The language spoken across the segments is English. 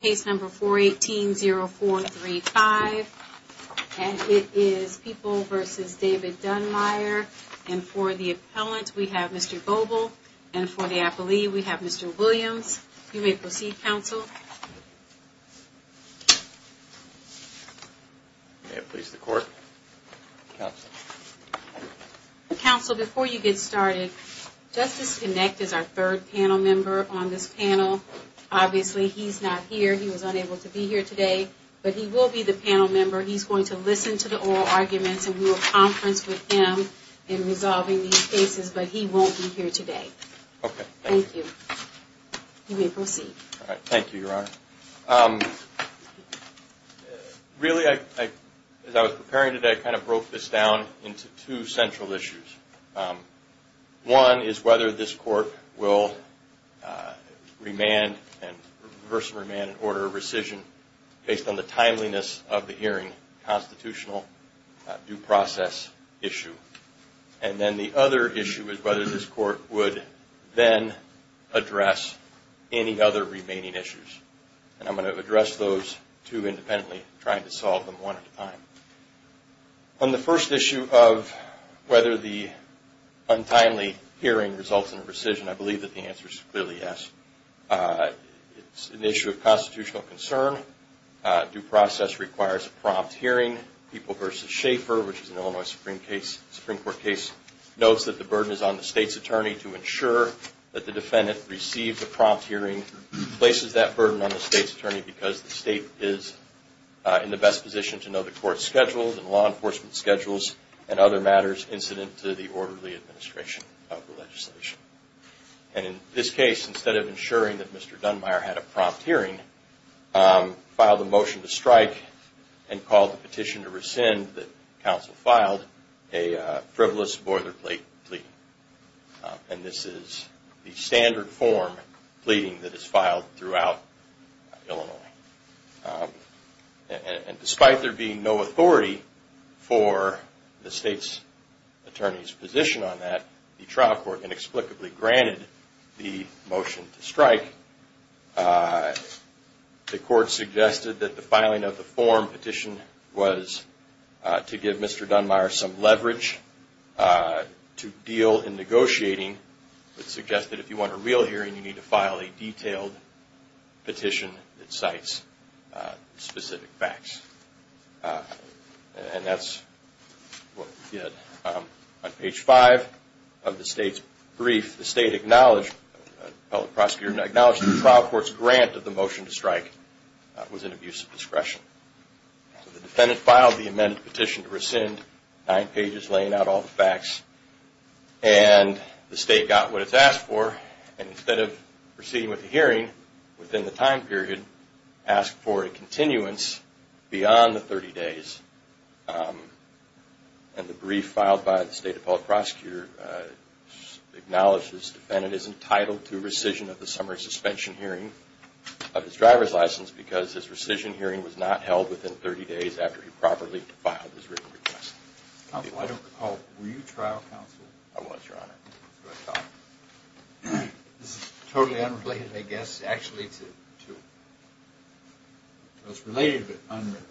Case number 418-0435. And it is People v. David Dunmire. And for the appellant, we have Mr. Boble. And for the appellee, we have Mr. Williams. You may proceed, counsel. May it please the court. Counsel, before you get started, Justice Kinect is our third panel member on this panel. Obviously, he's not here. He was unable to be here today. But he will be the panel member. He's going to listen to the oral arguments and we will conference with him in resolving these cases. But he won't be here today. Okay, thank you. Thank you. You may proceed. Thank you, Your Honor. Really, as I was preparing today, I kind of broke this down into two central issues. One is whether this court will reverse and remand an order of rescission based on the timeliness of the hearing, constitutional due process issue. And then the other issue is whether this court would then address any other remaining issues. And I'm going to address those two independently, trying to solve them one at a time. On the first issue of whether the untimely hearing results in rescission, I believe that the answer is clearly yes. It's an issue of constitutional concern. Due process requires a prompt hearing. People v. Schaeffer, which is an Illinois Supreme Court case, notes that the burden is on the state's attorney to ensure that the defendant receives a prompt hearing. Places that burden on the state's attorney because the state is in the best position to know the court's schedules and law enforcement schedules and other matters incident to the orderly administration of the legislation. And in this case, instead of ensuring that Mr. Dunmire had a prompt hearing, filed a motion to strike and called the petition to rescind that counsel filed a frivolous boilerplate plea. And this is the standard form pleading that is filed throughout Illinois. And despite there being no authority for the state's attorney's position on that, the trial court inexplicably granted the motion to strike. The court suggested that the filing of the form petition was to give Mr. Dunmire some leverage to deal in negotiating. It suggested that if you want a real hearing, you need to file a detailed petition that cites specific facts. And that's what we did. On page 5 of the state's brief, the state acknowledged that the trial court's grant of the motion to strike was an abuse of discretion. The defendant filed the amended petition to rescind, nine pages laying out all the facts. And the state got what it's asked for. And instead of proceeding with the hearing within the time period, asked for a continuance beyond the 30 days. And the brief filed by the state appellate prosecutor acknowledged this defendant is entitled to rescission of the summary suspension hearing of his driver's license because his rescission hearing was not held within 30 days after he properly filed his written request. Were you trial counsel? I was, Your Honor. This is totally unrelated, I guess. Actually, it's related but unrelated.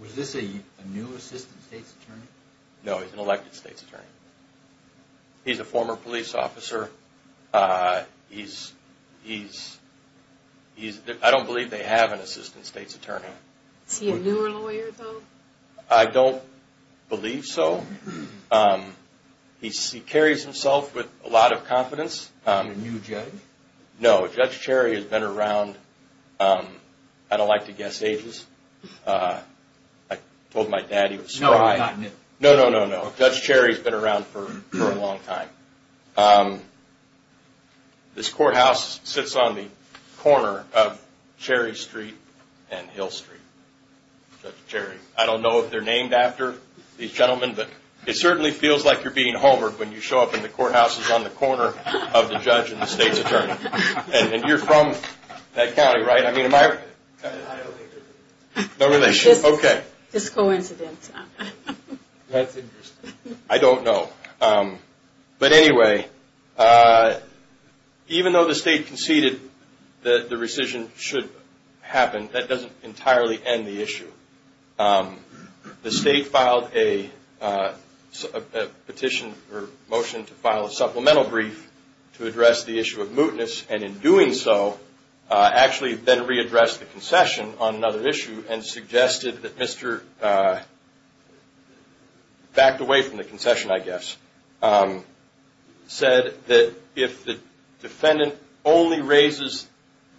Was this a new assistant state's attorney? No, he's an elected state's attorney. He's a former police officer. I don't believe they have an assistant state's attorney. Is he a newer lawyer, though? I don't believe so. He carries himself with a lot of confidence. A new judge? No, Judge Cherry has been around, I don't like to guess ages. I told my dad he was... No, no, no, no. Judge Cherry has been around for a long time. This courthouse sits on the corner of Cherry Street and Hill Street. Judge Cherry, I don't know if they're named after these gentlemen, but it certainly feels like you're being homework when you show up and the courthouse is on the corner of the judge and the state's attorney. And you're from that county, right? I don't think they're related. No relation, okay. It's just coincidence. That's interesting. I don't know. But anyway, even though the state conceded that the rescission should happen, that doesn't entirely end the issue. The state filed a petition or motion to file a supplemental brief to address the issue of mootness and in doing so, actually then readdressed the concession on another issue and suggested that Mr. Backed away from the concession, I guess. Said that if the defendant only raises,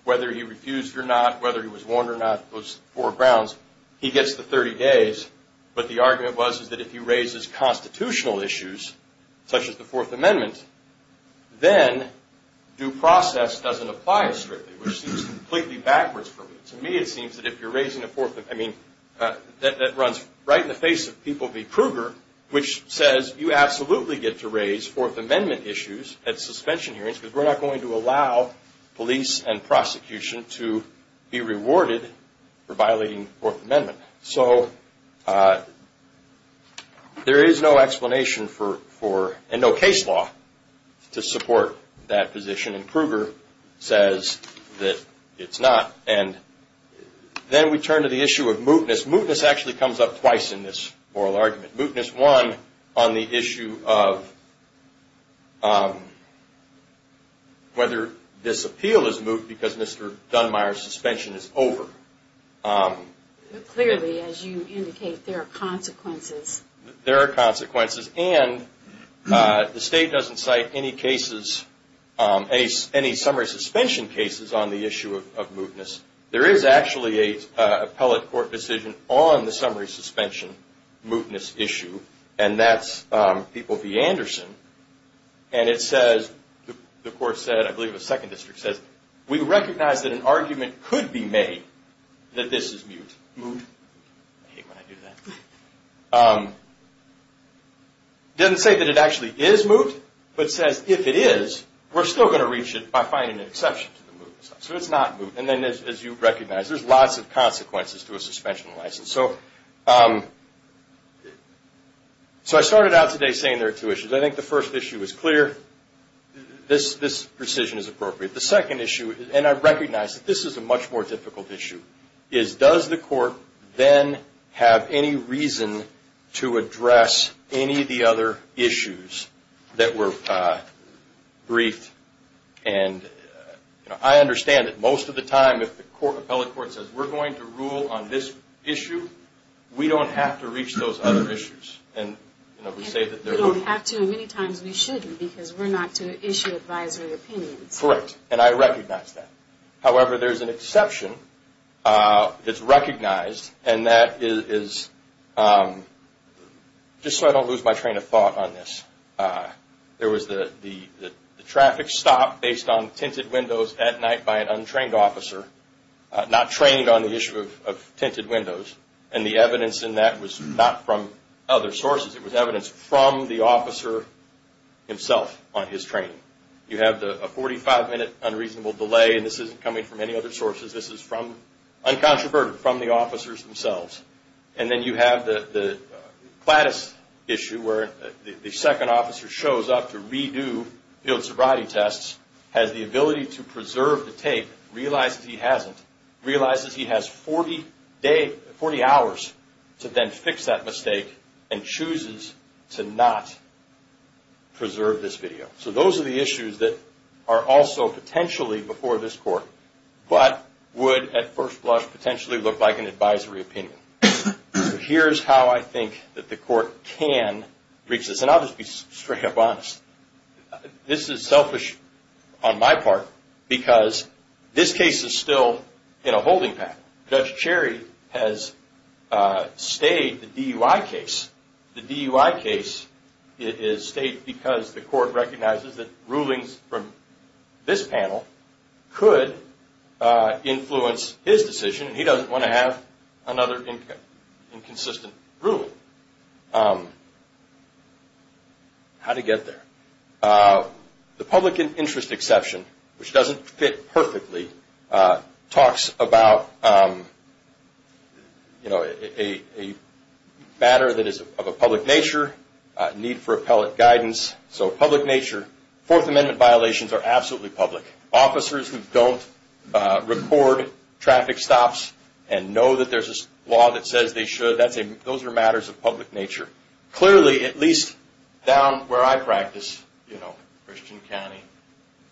whether he refused or not, whether he was warned or not, those four grounds, he gets the 30 days. But the argument was that if he raises constitutional issues, such as the Fourth Amendment, then due process doesn't apply as strictly, which seems completely backwards for me. To me, it seems that if you're raising a Fourth Amendment, I mean, that runs right in the face of people v. Kruger, which says you absolutely get to raise Fourth Amendment issues at suspension hearings, because we're not going to allow police and prosecution to be rewarded for violating the Fourth Amendment. So there is no explanation for, and no case law to support that position, and Kruger says that it's not. And then we turn to the issue of mootness. Mootness actually comes up twice in this oral argument. Mootness, one, on the issue of whether this appeal is moot because Mr. Dunmire's suspension is over. Clearly, as you indicate, there are consequences. There are consequences, and the state doesn't cite any cases, any summary suspension cases on the issue of mootness. There is actually an appellate court decision on the summary suspension mootness issue, and that's people v. Anderson. And it says, the court said, I believe the Second District says, we recognize that an argument could be made that this is moot. I hate when I do that. It doesn't say that it actually is moot, but it says if it is, we're still going to reach it by finding an exception to the mootness. So it's not moot, and then as you recognize, there's lots of consequences to a suspension license. So I started out today saying there are two issues. I think the first issue is clear. This precision is appropriate. The second issue, and I recognize that this is a much more difficult issue, is does the court then have any reason to address any of the other issues that were briefed? And I understand that most of the time, if the appellate court says, we're going to rule on this issue, we don't have to reach those other issues. And we say that they're moot. We don't have to, and many times we shouldn't, because we're not to issue advisory opinions. Correct, and I recognize that. However, there's an exception that's recognized, and that is, just so I don't lose my train of thought on this, there was the traffic stop based on tinted windows at night by an untrained officer, not trained on the issue of tinted windows. And the evidence in that was not from other sources. It was evidence from the officer himself on his training. You have a 45-minute unreasonable delay, and this isn't coming from any other sources. This is from, uncontroverted, from the officers themselves. And then you have the Cladis issue, where the second officer shows up to redo field sobriety tests, has the ability to preserve the tape, realizes he hasn't, realizes he has 40 hours to then fix that mistake, and chooses to not preserve this video. So those are the issues that are also potentially before this Court, but would at first blush potentially look like an advisory opinion. Here's how I think that the Court can reach this, and I'll just be straight up honest. This is selfish on my part, because this case is still in a holding pattern. Judge Cherry has stayed the DUI case. The DUI case is stayed because the Court recognizes that rulings from this panel could influence his decision, and he doesn't want to have another inconsistent rule. How to get there. The public interest exception, which doesn't fit perfectly, talks about a matter that is of a public nature, need for appellate guidance. So public nature, Fourth Amendment violations are absolutely public. Officers who don't record traffic stops and know that there's a law that says they should, those are matters of public nature. Clearly, at least down where I practice, you know, Christian County,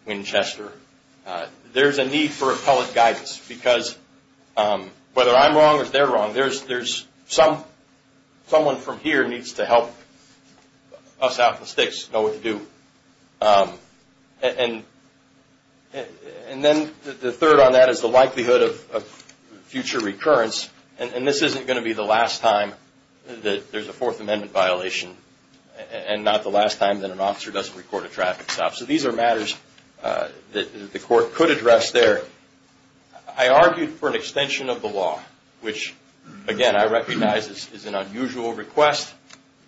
Winchester, there's a need for appellate guidance, because whether I'm wrong or they're wrong, there's some, someone from here needs to help us out the sticks, know what to do. And then the third on that is the likelihood of future recurrence, and this isn't going to be the last time that there's a Fourth Amendment violation, and not the last time that an officer doesn't record a traffic stop. So these are matters that the Court could address there. I argued for an extension of the law, which, again, I recognize is an unusual request,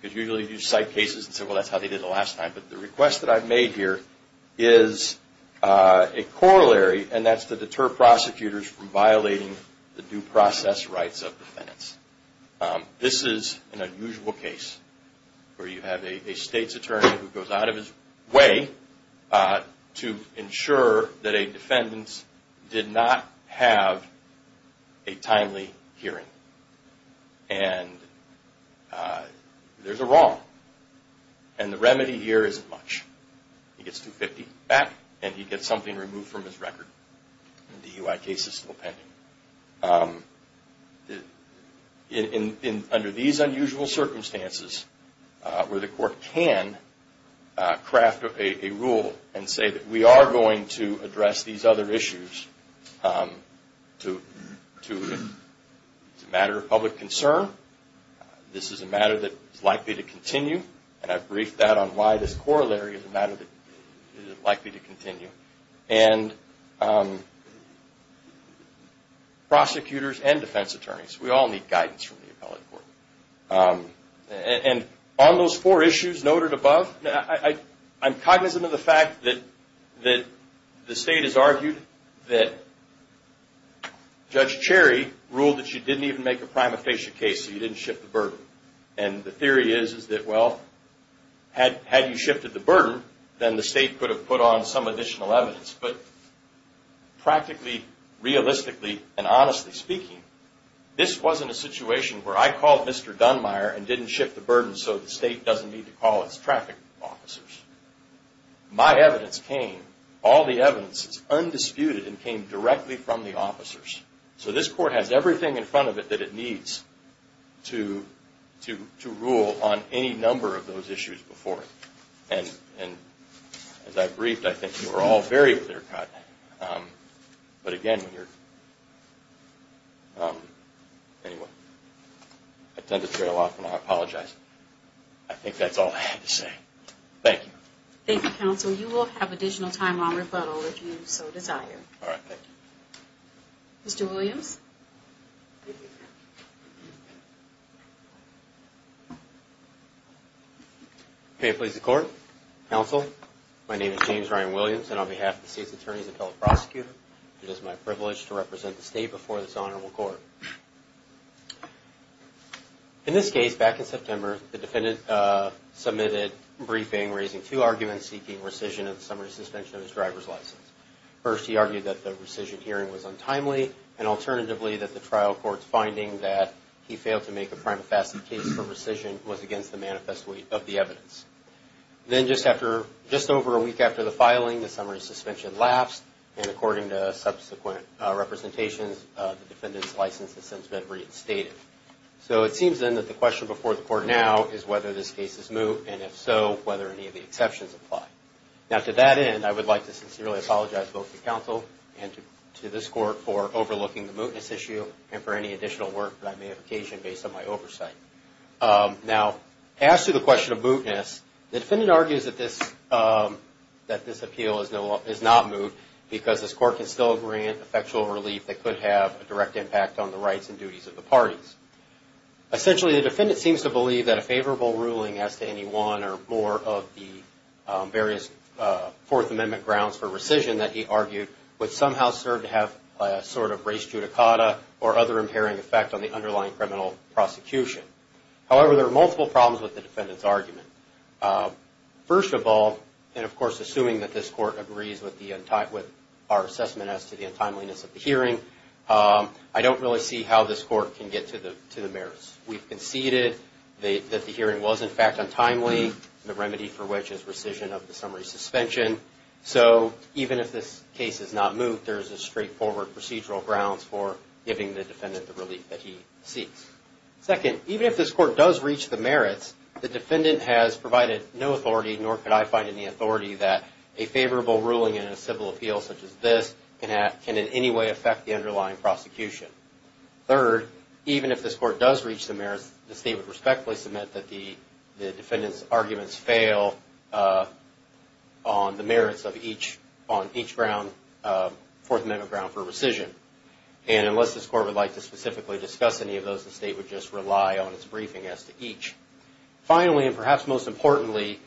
because usually you cite cases and say, well, that's how they did it the last time. But the request that I've made here is a corollary, and that's to deter prosecutors from violating the due process rights of defendants. This is an unusual case where you have a state's attorney who goes out of his way to ensure that a defendant did not have a timely hearing. And there's a wrong, and the remedy here isn't much. He gets $250,000 back, and he gets something removed from his record. The DUI case is still pending. Under these unusual circumstances where the Court can craft a rule and say that we are going to address these other issues, it's a matter of public concern. This is a matter that is likely to continue, and I've briefed that on why this corollary is a matter that is likely to continue. And prosecutors and defense attorneys, we all need guidance from the appellate court. And on those four issues noted above, I'm cognizant of the fact that the state has argued that Judge Cherry ruled that you didn't even make a prima facie case, so you didn't shift the burden. And the theory is that, well, had you shifted the burden, then the state could have put on some additional evidence. But practically, realistically, and honestly speaking, this wasn't a situation where I called Mr. Dunmire and didn't shift the burden so the state doesn't need to call its traffic officers. My evidence came. All the evidence is undisputed and came directly from the officers. So this court has everything in front of it that it needs to rule on any number of those issues before it. And as I briefed, I think you were all very clear cut. But again, I tend to trail off and I apologize. I think that's all I have to say. Thank you. Thank you, counsel. You will have additional time on rebuttal if you so desire. Mr. Williams. May it please the court. Counsel, my name is James Ryan Williams, and on behalf of the state's attorneys and fellow prosecutors, it is my privilege to represent the state before this honorable court. In this case, back in September, the defendant submitted a briefing raising two arguments seeking rescission of the summary suspension of his driver's license. First, he argued that the rescission hearing was untimely, and alternatively that the trial court's finding that he failed to make a prima facie case for rescission was against the manifest weight of the evidence. Then just over a week after the filing, the summary suspension lapsed, and according to subsequent representations, the defendant's license has since been reinstated. So it seems then that the question before the court now is whether this case is moot, and if so, whether any of the exceptions apply. Now, to that end, I would like to sincerely apologize both to counsel and to this court for overlooking the mootness issue and for any additional work that I may have occasioned based on my oversight. Now, as to the question of mootness, the defendant argues that this appeal is not moot because this court can still grant effectual relief that could have a direct impact on the rights and duties of the parties. Essentially, the defendant seems to believe that a favorable ruling as to any one or more of the various Fourth Amendment grounds for rescission that he argued would somehow serve to have a sort of res judicata or other impairing effect on the underlying criminal prosecution. However, there are multiple problems with the defendant's argument. First of all, and of course assuming that this court agrees with our assessment as to the untimeliness of the hearing, I don't really see how this court can get to the merits. We've conceded that the hearing was in fact untimely, the remedy for which is rescission of the summary suspension. So even if this case is not moot, there is a straightforward procedural grounds for giving the defendant the relief that he seeks. Second, even if this court does reach the merits, the defendant has provided no authority, nor could I find any authority, that a favorable ruling in a civil appeal such as this can in any way affect the underlying prosecution. Third, even if this court does reach the merits, the state would respectfully submit that the defendant's arguments fail on the merits on each Fourth Amendment ground for rescission. And unless this court would like to specifically discuss any of those, the state would just rely on its briefing as to each. Finally, and perhaps most importantly,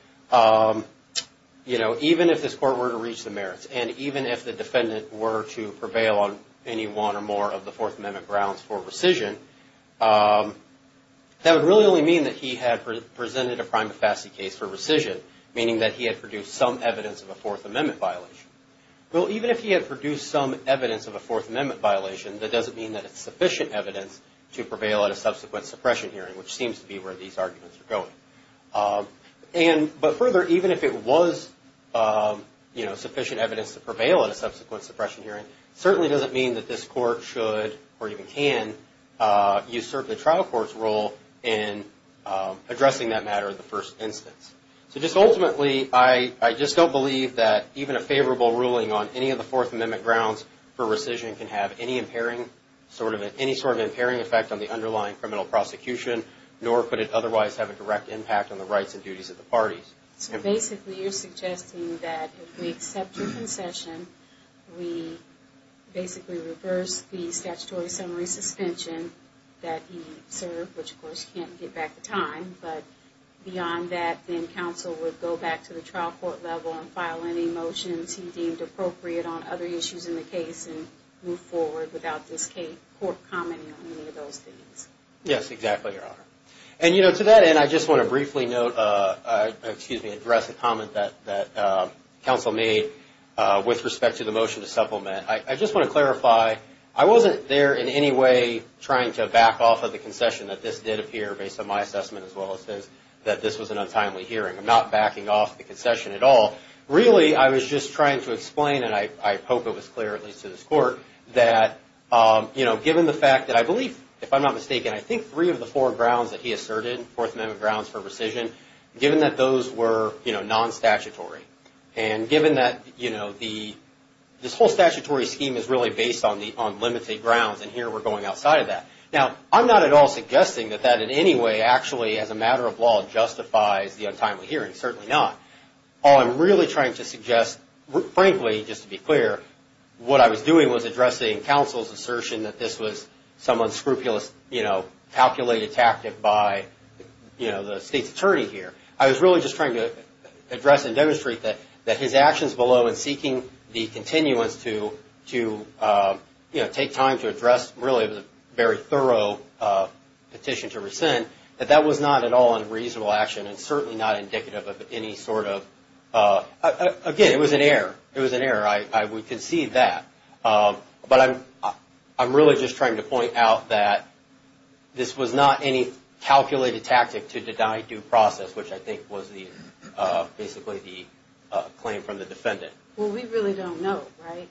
even if this court were to reach the merits, and even if the defendant were to prevail on any one or more of the Fourth Amendment grounds for rescission, that would really only mean that he had presented a prima facie case for rescission, meaning that he had produced some evidence of a Fourth Amendment violation. Well, even if he had produced some evidence of a Fourth Amendment violation, that doesn't mean that it's sufficient evidence to prevail at a subsequent suppression hearing, which seems to be where these arguments are going. But further, even if it was sufficient evidence to prevail at a subsequent suppression hearing, it certainly doesn't mean that this court should, or even can, usurp the trial court's role in addressing that matter in the first instance. So just ultimately, I just don't believe that even a favorable ruling on any of the Fourth Amendment grounds for rescission can have any sort of impairing effect on the underlying criminal prosecution, nor could it otherwise have a direct impact on the rights and duties of the parties. So basically, you're suggesting that if we accept your concession, we basically reverse the statutory summary suspension that he served, which of course you can't get back to time, but beyond that, then counsel would go back to the trial court level and file any motions he deemed appropriate on other issues in the case and move forward without this court commenting on any of those things. Yes, exactly, Your Honor. And, you know, to that end, I just want to briefly note, excuse me, address a comment that counsel made with respect to the motion to supplement. I just want to clarify, I wasn't there in any way trying to back off of the concession that this did appear, based on my assessment as well as his, that this was an untimely hearing. I'm not backing off the concession at all. Really, I was just trying to explain, and I hope it was clear, at least to this court, that, you know, given the fact that I believe, if I'm not mistaken, I think three of the four grounds that he asserted, Fourth Amendment grounds for rescission, given that those were, you know, non-statutory, and given that, you know, this whole statutory scheme is really based on limited grounds, and here we're going outside of that. Now, I'm not at all suggesting that that in any way actually as a matter of law justifies the untimely hearing. Certainly not. All I'm really trying to suggest, frankly, just to be clear, what I was doing was addressing counsel's assertion that this was some unscrupulous, you know, calculated tactic by, you know, the state's attorney here. I was really just trying to address and demonstrate that his actions below in seeking the continuance to, you know, take time to address really a very thorough petition to rescind, that that was not at all a reasonable action and certainly not indicative of any sort of, again, it was an error. It was an error. I would concede that. But I'm really just trying to point out that this was not any calculated tactic to deny due process, which I think was basically the claim from the defendant. Well, we really don't know, right?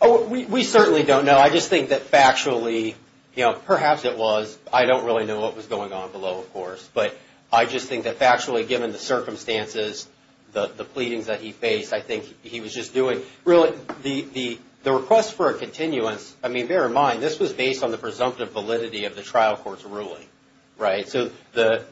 Oh, we certainly don't know. I just think that factually, you know, perhaps it was. I don't really know what was going on below, of course. But I just think that factually, given the circumstances, the pleadings that he faced, I think he was just doing really the request for a continuance. I mean, bear in mind, this was based on the presumptive validity of the trial court's ruling, right? So the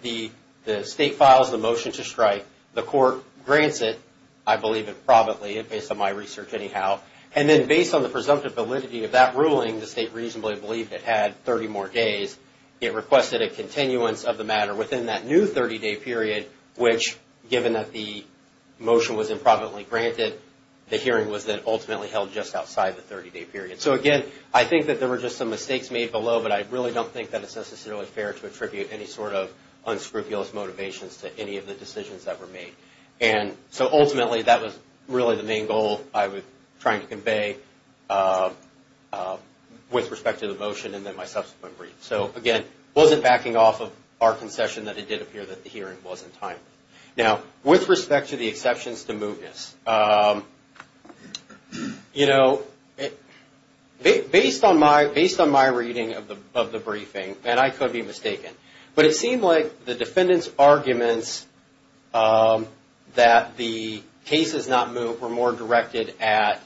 state files the motion to strike. The court grants it. I believe it probably, based on my research anyhow. And then based on the presumptive validity of that ruling, the state reasonably believed it had 30 more days. It requested a continuance of the matter within that new 30-day period, which given that the motion was improvidently granted, the hearing was then ultimately held just outside the 30-day period. So again, I think that there were just some mistakes made below, but I really don't think that it's necessarily fair to attribute any sort of unscrupulous motivations to any of the decisions that were made. And so ultimately, that was really the main goal I was trying to convey with respect to the motion and then my subsequent brief. So again, it wasn't backing off of our concession that it did appear that the hearing wasn't timed. Now, with respect to the exceptions to mootness, you know, based on my reading of the briefing, and I could be mistaken, but it seemed like the defendant's arguments that the case is not moot were more directed at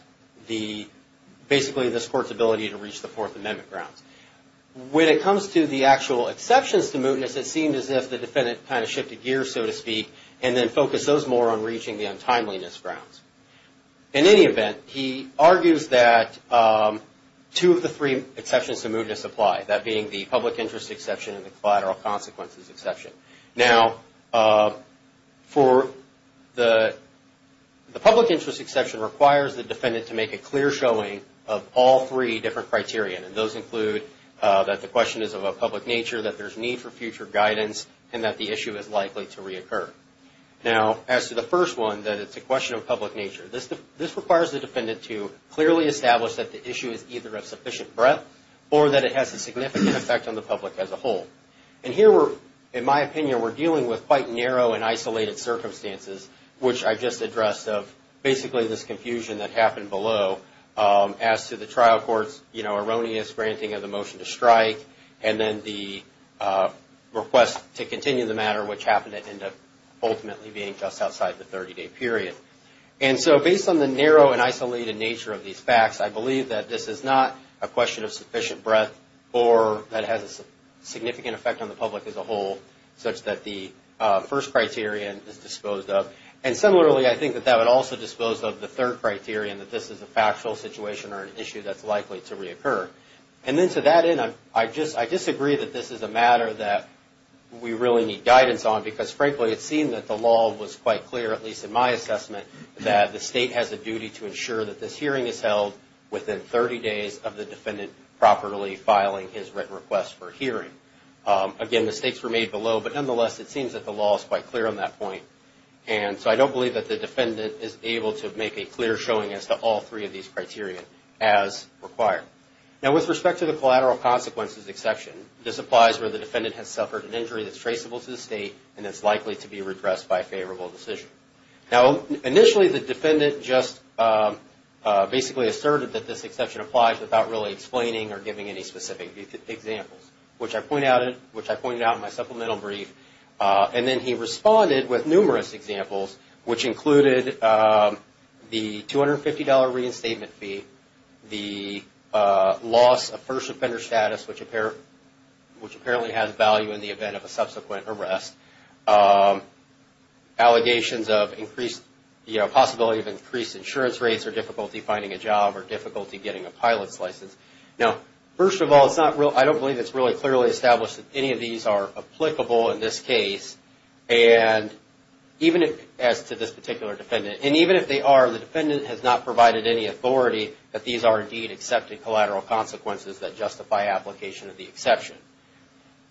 basically this Court's ability to reach the Fourth Amendment grounds. When it comes to the actual exceptions to mootness, it seemed as if the defendant kind of shifted gears, so to speak, and then focused those more on reaching the untimeliness grounds. In any event, he argues that two of the three exceptions to mootness apply, that being the public interest exception and the collateral consequences exception. Now, the public interest exception requires the defendant to make a clear showing of all three different criteria, and those include that the question is of a public nature, that there's need for future guidance, and that the issue is likely to reoccur. Now, as to the first one, that it's a question of public nature, this requires the defendant to clearly establish that the issue is either of sufficient breadth or that it has a significant effect on the public as a whole. And here, in my opinion, we're dealing with quite narrow and isolated circumstances, which I just addressed of basically this confusion that happened below, as to the trial court's erroneous granting of the motion to strike, and then the request to continue the matter, which happened to end up ultimately being just outside the 30-day period. And so based on the narrow and isolated nature of these facts, I believe that this is not a question of sufficient breadth or that it has a significant effect on the public as a whole, such that the first criterion is disposed of. And similarly, I think that that would also dispose of the third criterion, that this is a factual situation or an issue that's likely to reoccur. And then to that end, I disagree that this is a matter that we really need guidance on, because frankly it seemed that the law was quite clear, at least in my assessment, that the state has a duty to ensure that this hearing is held within 30 days of the defendant properly filing his written request for hearing. Again, mistakes were made below, but nonetheless it seems that the law is quite clear on that point. And so I don't believe that the defendant is able to make a clear showing as to all three of these criteria as required. Now, with respect to the collateral consequences exception, this applies where the defendant has suffered an injury that's traceable to the state and is likely to be redressed by a favorable decision. Now, initially the defendant just basically asserted that this exception applies without really explaining or giving any specific examples, which I pointed out in my supplemental brief. And then he responded with numerous examples, which included the $250 reinstatement fee, the loss of first offender status, which apparently has value in the event of a subsequent arrest, allegations of possibility of increased insurance rates or difficulty finding a job or difficulty getting a pilot's license. Now, first of all, I don't believe it's really clearly established that any of these are applicable in this case, as to this particular defendant. And even if they are, the defendant has not provided any authority that these are indeed accepted collateral consequences that justify application of the exception.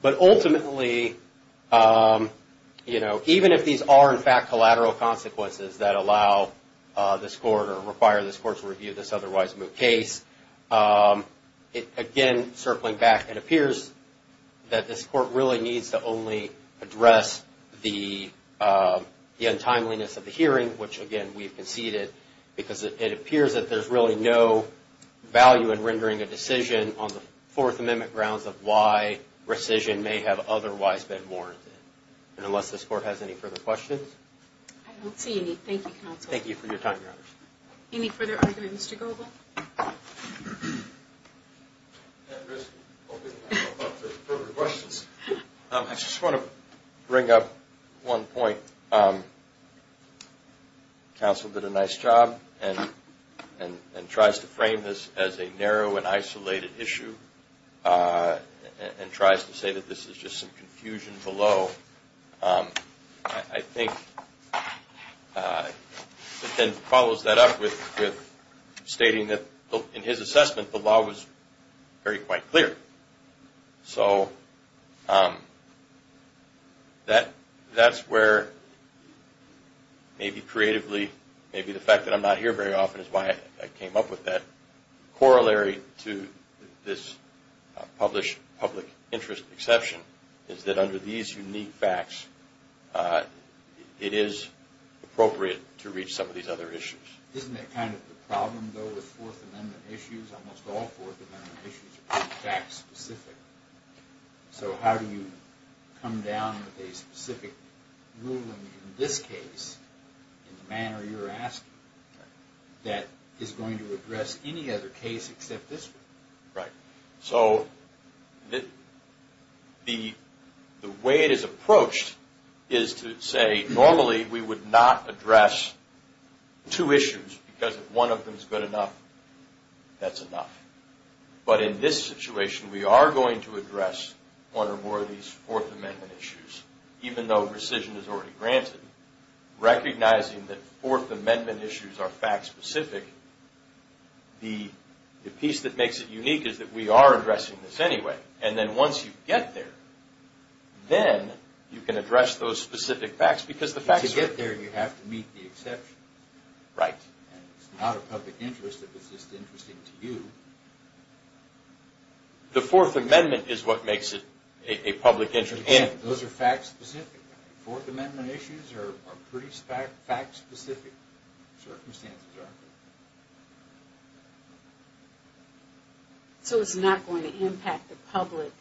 But ultimately, you know, even if these are in fact collateral consequences that allow this court or require this court to review this otherwise moot case, again, circling back, it appears that this court really needs to only address the untimeliness of the hearing, which again, we've conceded, because it appears that there's really no value in rendering a decision on the Fourth Amendment grounds of why rescission may have otherwise been warranted. And unless this court has any further questions? I don't see any. Thank you, counsel. Thank you for your time, Your Honor. Any further argument, Mr. Goble? At this point, I don't have any further questions. I just want to bring up one point. I think counsel did a nice job and tries to frame this as a narrow and isolated issue and tries to say that this is just some confusion below. I think it then follows that up with stating that in his assessment, the law was very quite clear. So that's where, maybe creatively, maybe the fact that I'm not here very often is why I came up with that. Corollary to this published public interest exception is that under these unique facts, it is appropriate to reach some of these other issues. Isn't that kind of the problem, though, with Fourth Amendment issues? Almost all Fourth Amendment issues are fact-specific. So how do you come down with a specific ruling in this case, in the manner you're asking, that is going to address any other case except this one? Right. So the way it is approached is to say, normally we would not address two issues because if one of them is good enough, that's enough. But in this situation, we are going to address one or more of these Fourth Amendment issues, even though rescission is already granted. Recognizing that Fourth Amendment issues are fact-specific, the piece that makes it unique is that we are addressing this anyway. And then once you get there, then you can address those specific facts because the facts are there. Once you get there, you have to meet the exceptions. Right. It's not a public interest if it's just interesting to you. The Fourth Amendment is what makes it a public interest. Those are fact-specific. Fourth Amendment issues are pretty fact-specific. Circumstances are. So it's not going to impact the public.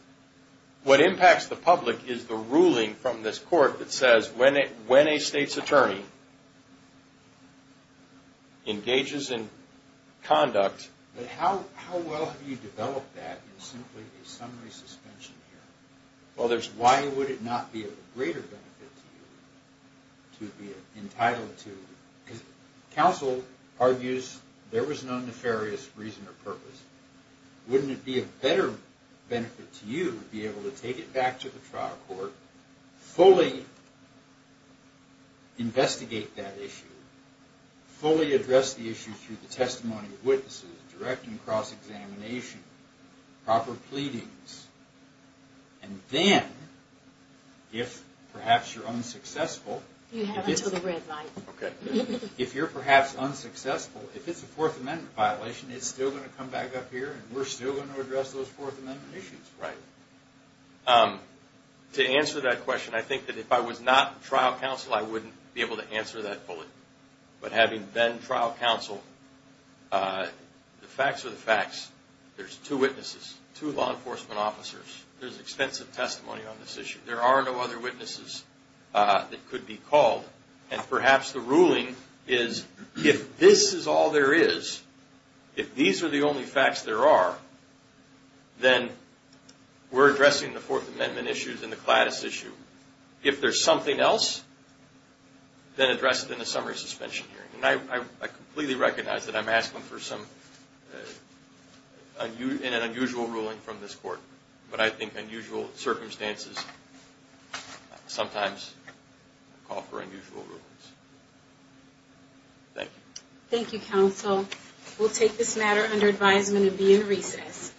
What impacts the public is the ruling from this Court that says, when a state's attorney engages in conduct, how well have you developed that in simply a summary suspension hearing? Why would it not be of greater benefit to you to be entitled to? Counsel argues there was no nefarious reason or purpose. Wouldn't it be of better benefit to you to be able to take it back to the trial court, fully investigate that issue, fully address the issue through the testimony of witnesses, direct and cross-examination, proper pleadings, and then, if perhaps you're unsuccessful. You have until the red light. Okay. If you're perhaps unsuccessful, if it's a Fourth Amendment violation, it's still going to come back up here and we're still going to address those Fourth Amendment issues. Right. To answer that question, I think that if I was not trial counsel, I wouldn't be able to answer that bullet. But having been trial counsel, the facts are the facts. There's two witnesses, two law enforcement officers. There's extensive testimony on this issue. There are no other witnesses that could be called. And perhaps the ruling is, if this is all there is, if these are the only facts there are, then we're addressing the Fourth Amendment issues and the CLADIS issue. If there's something else, then address it in a summary suspension hearing. And I completely recognize that I'm asking for an unusual ruling from this court. But I think unusual circumstances sometimes call for unusual rulings. Thank you. Thank you, counsel. We'll take this matter under advisement and be in recess.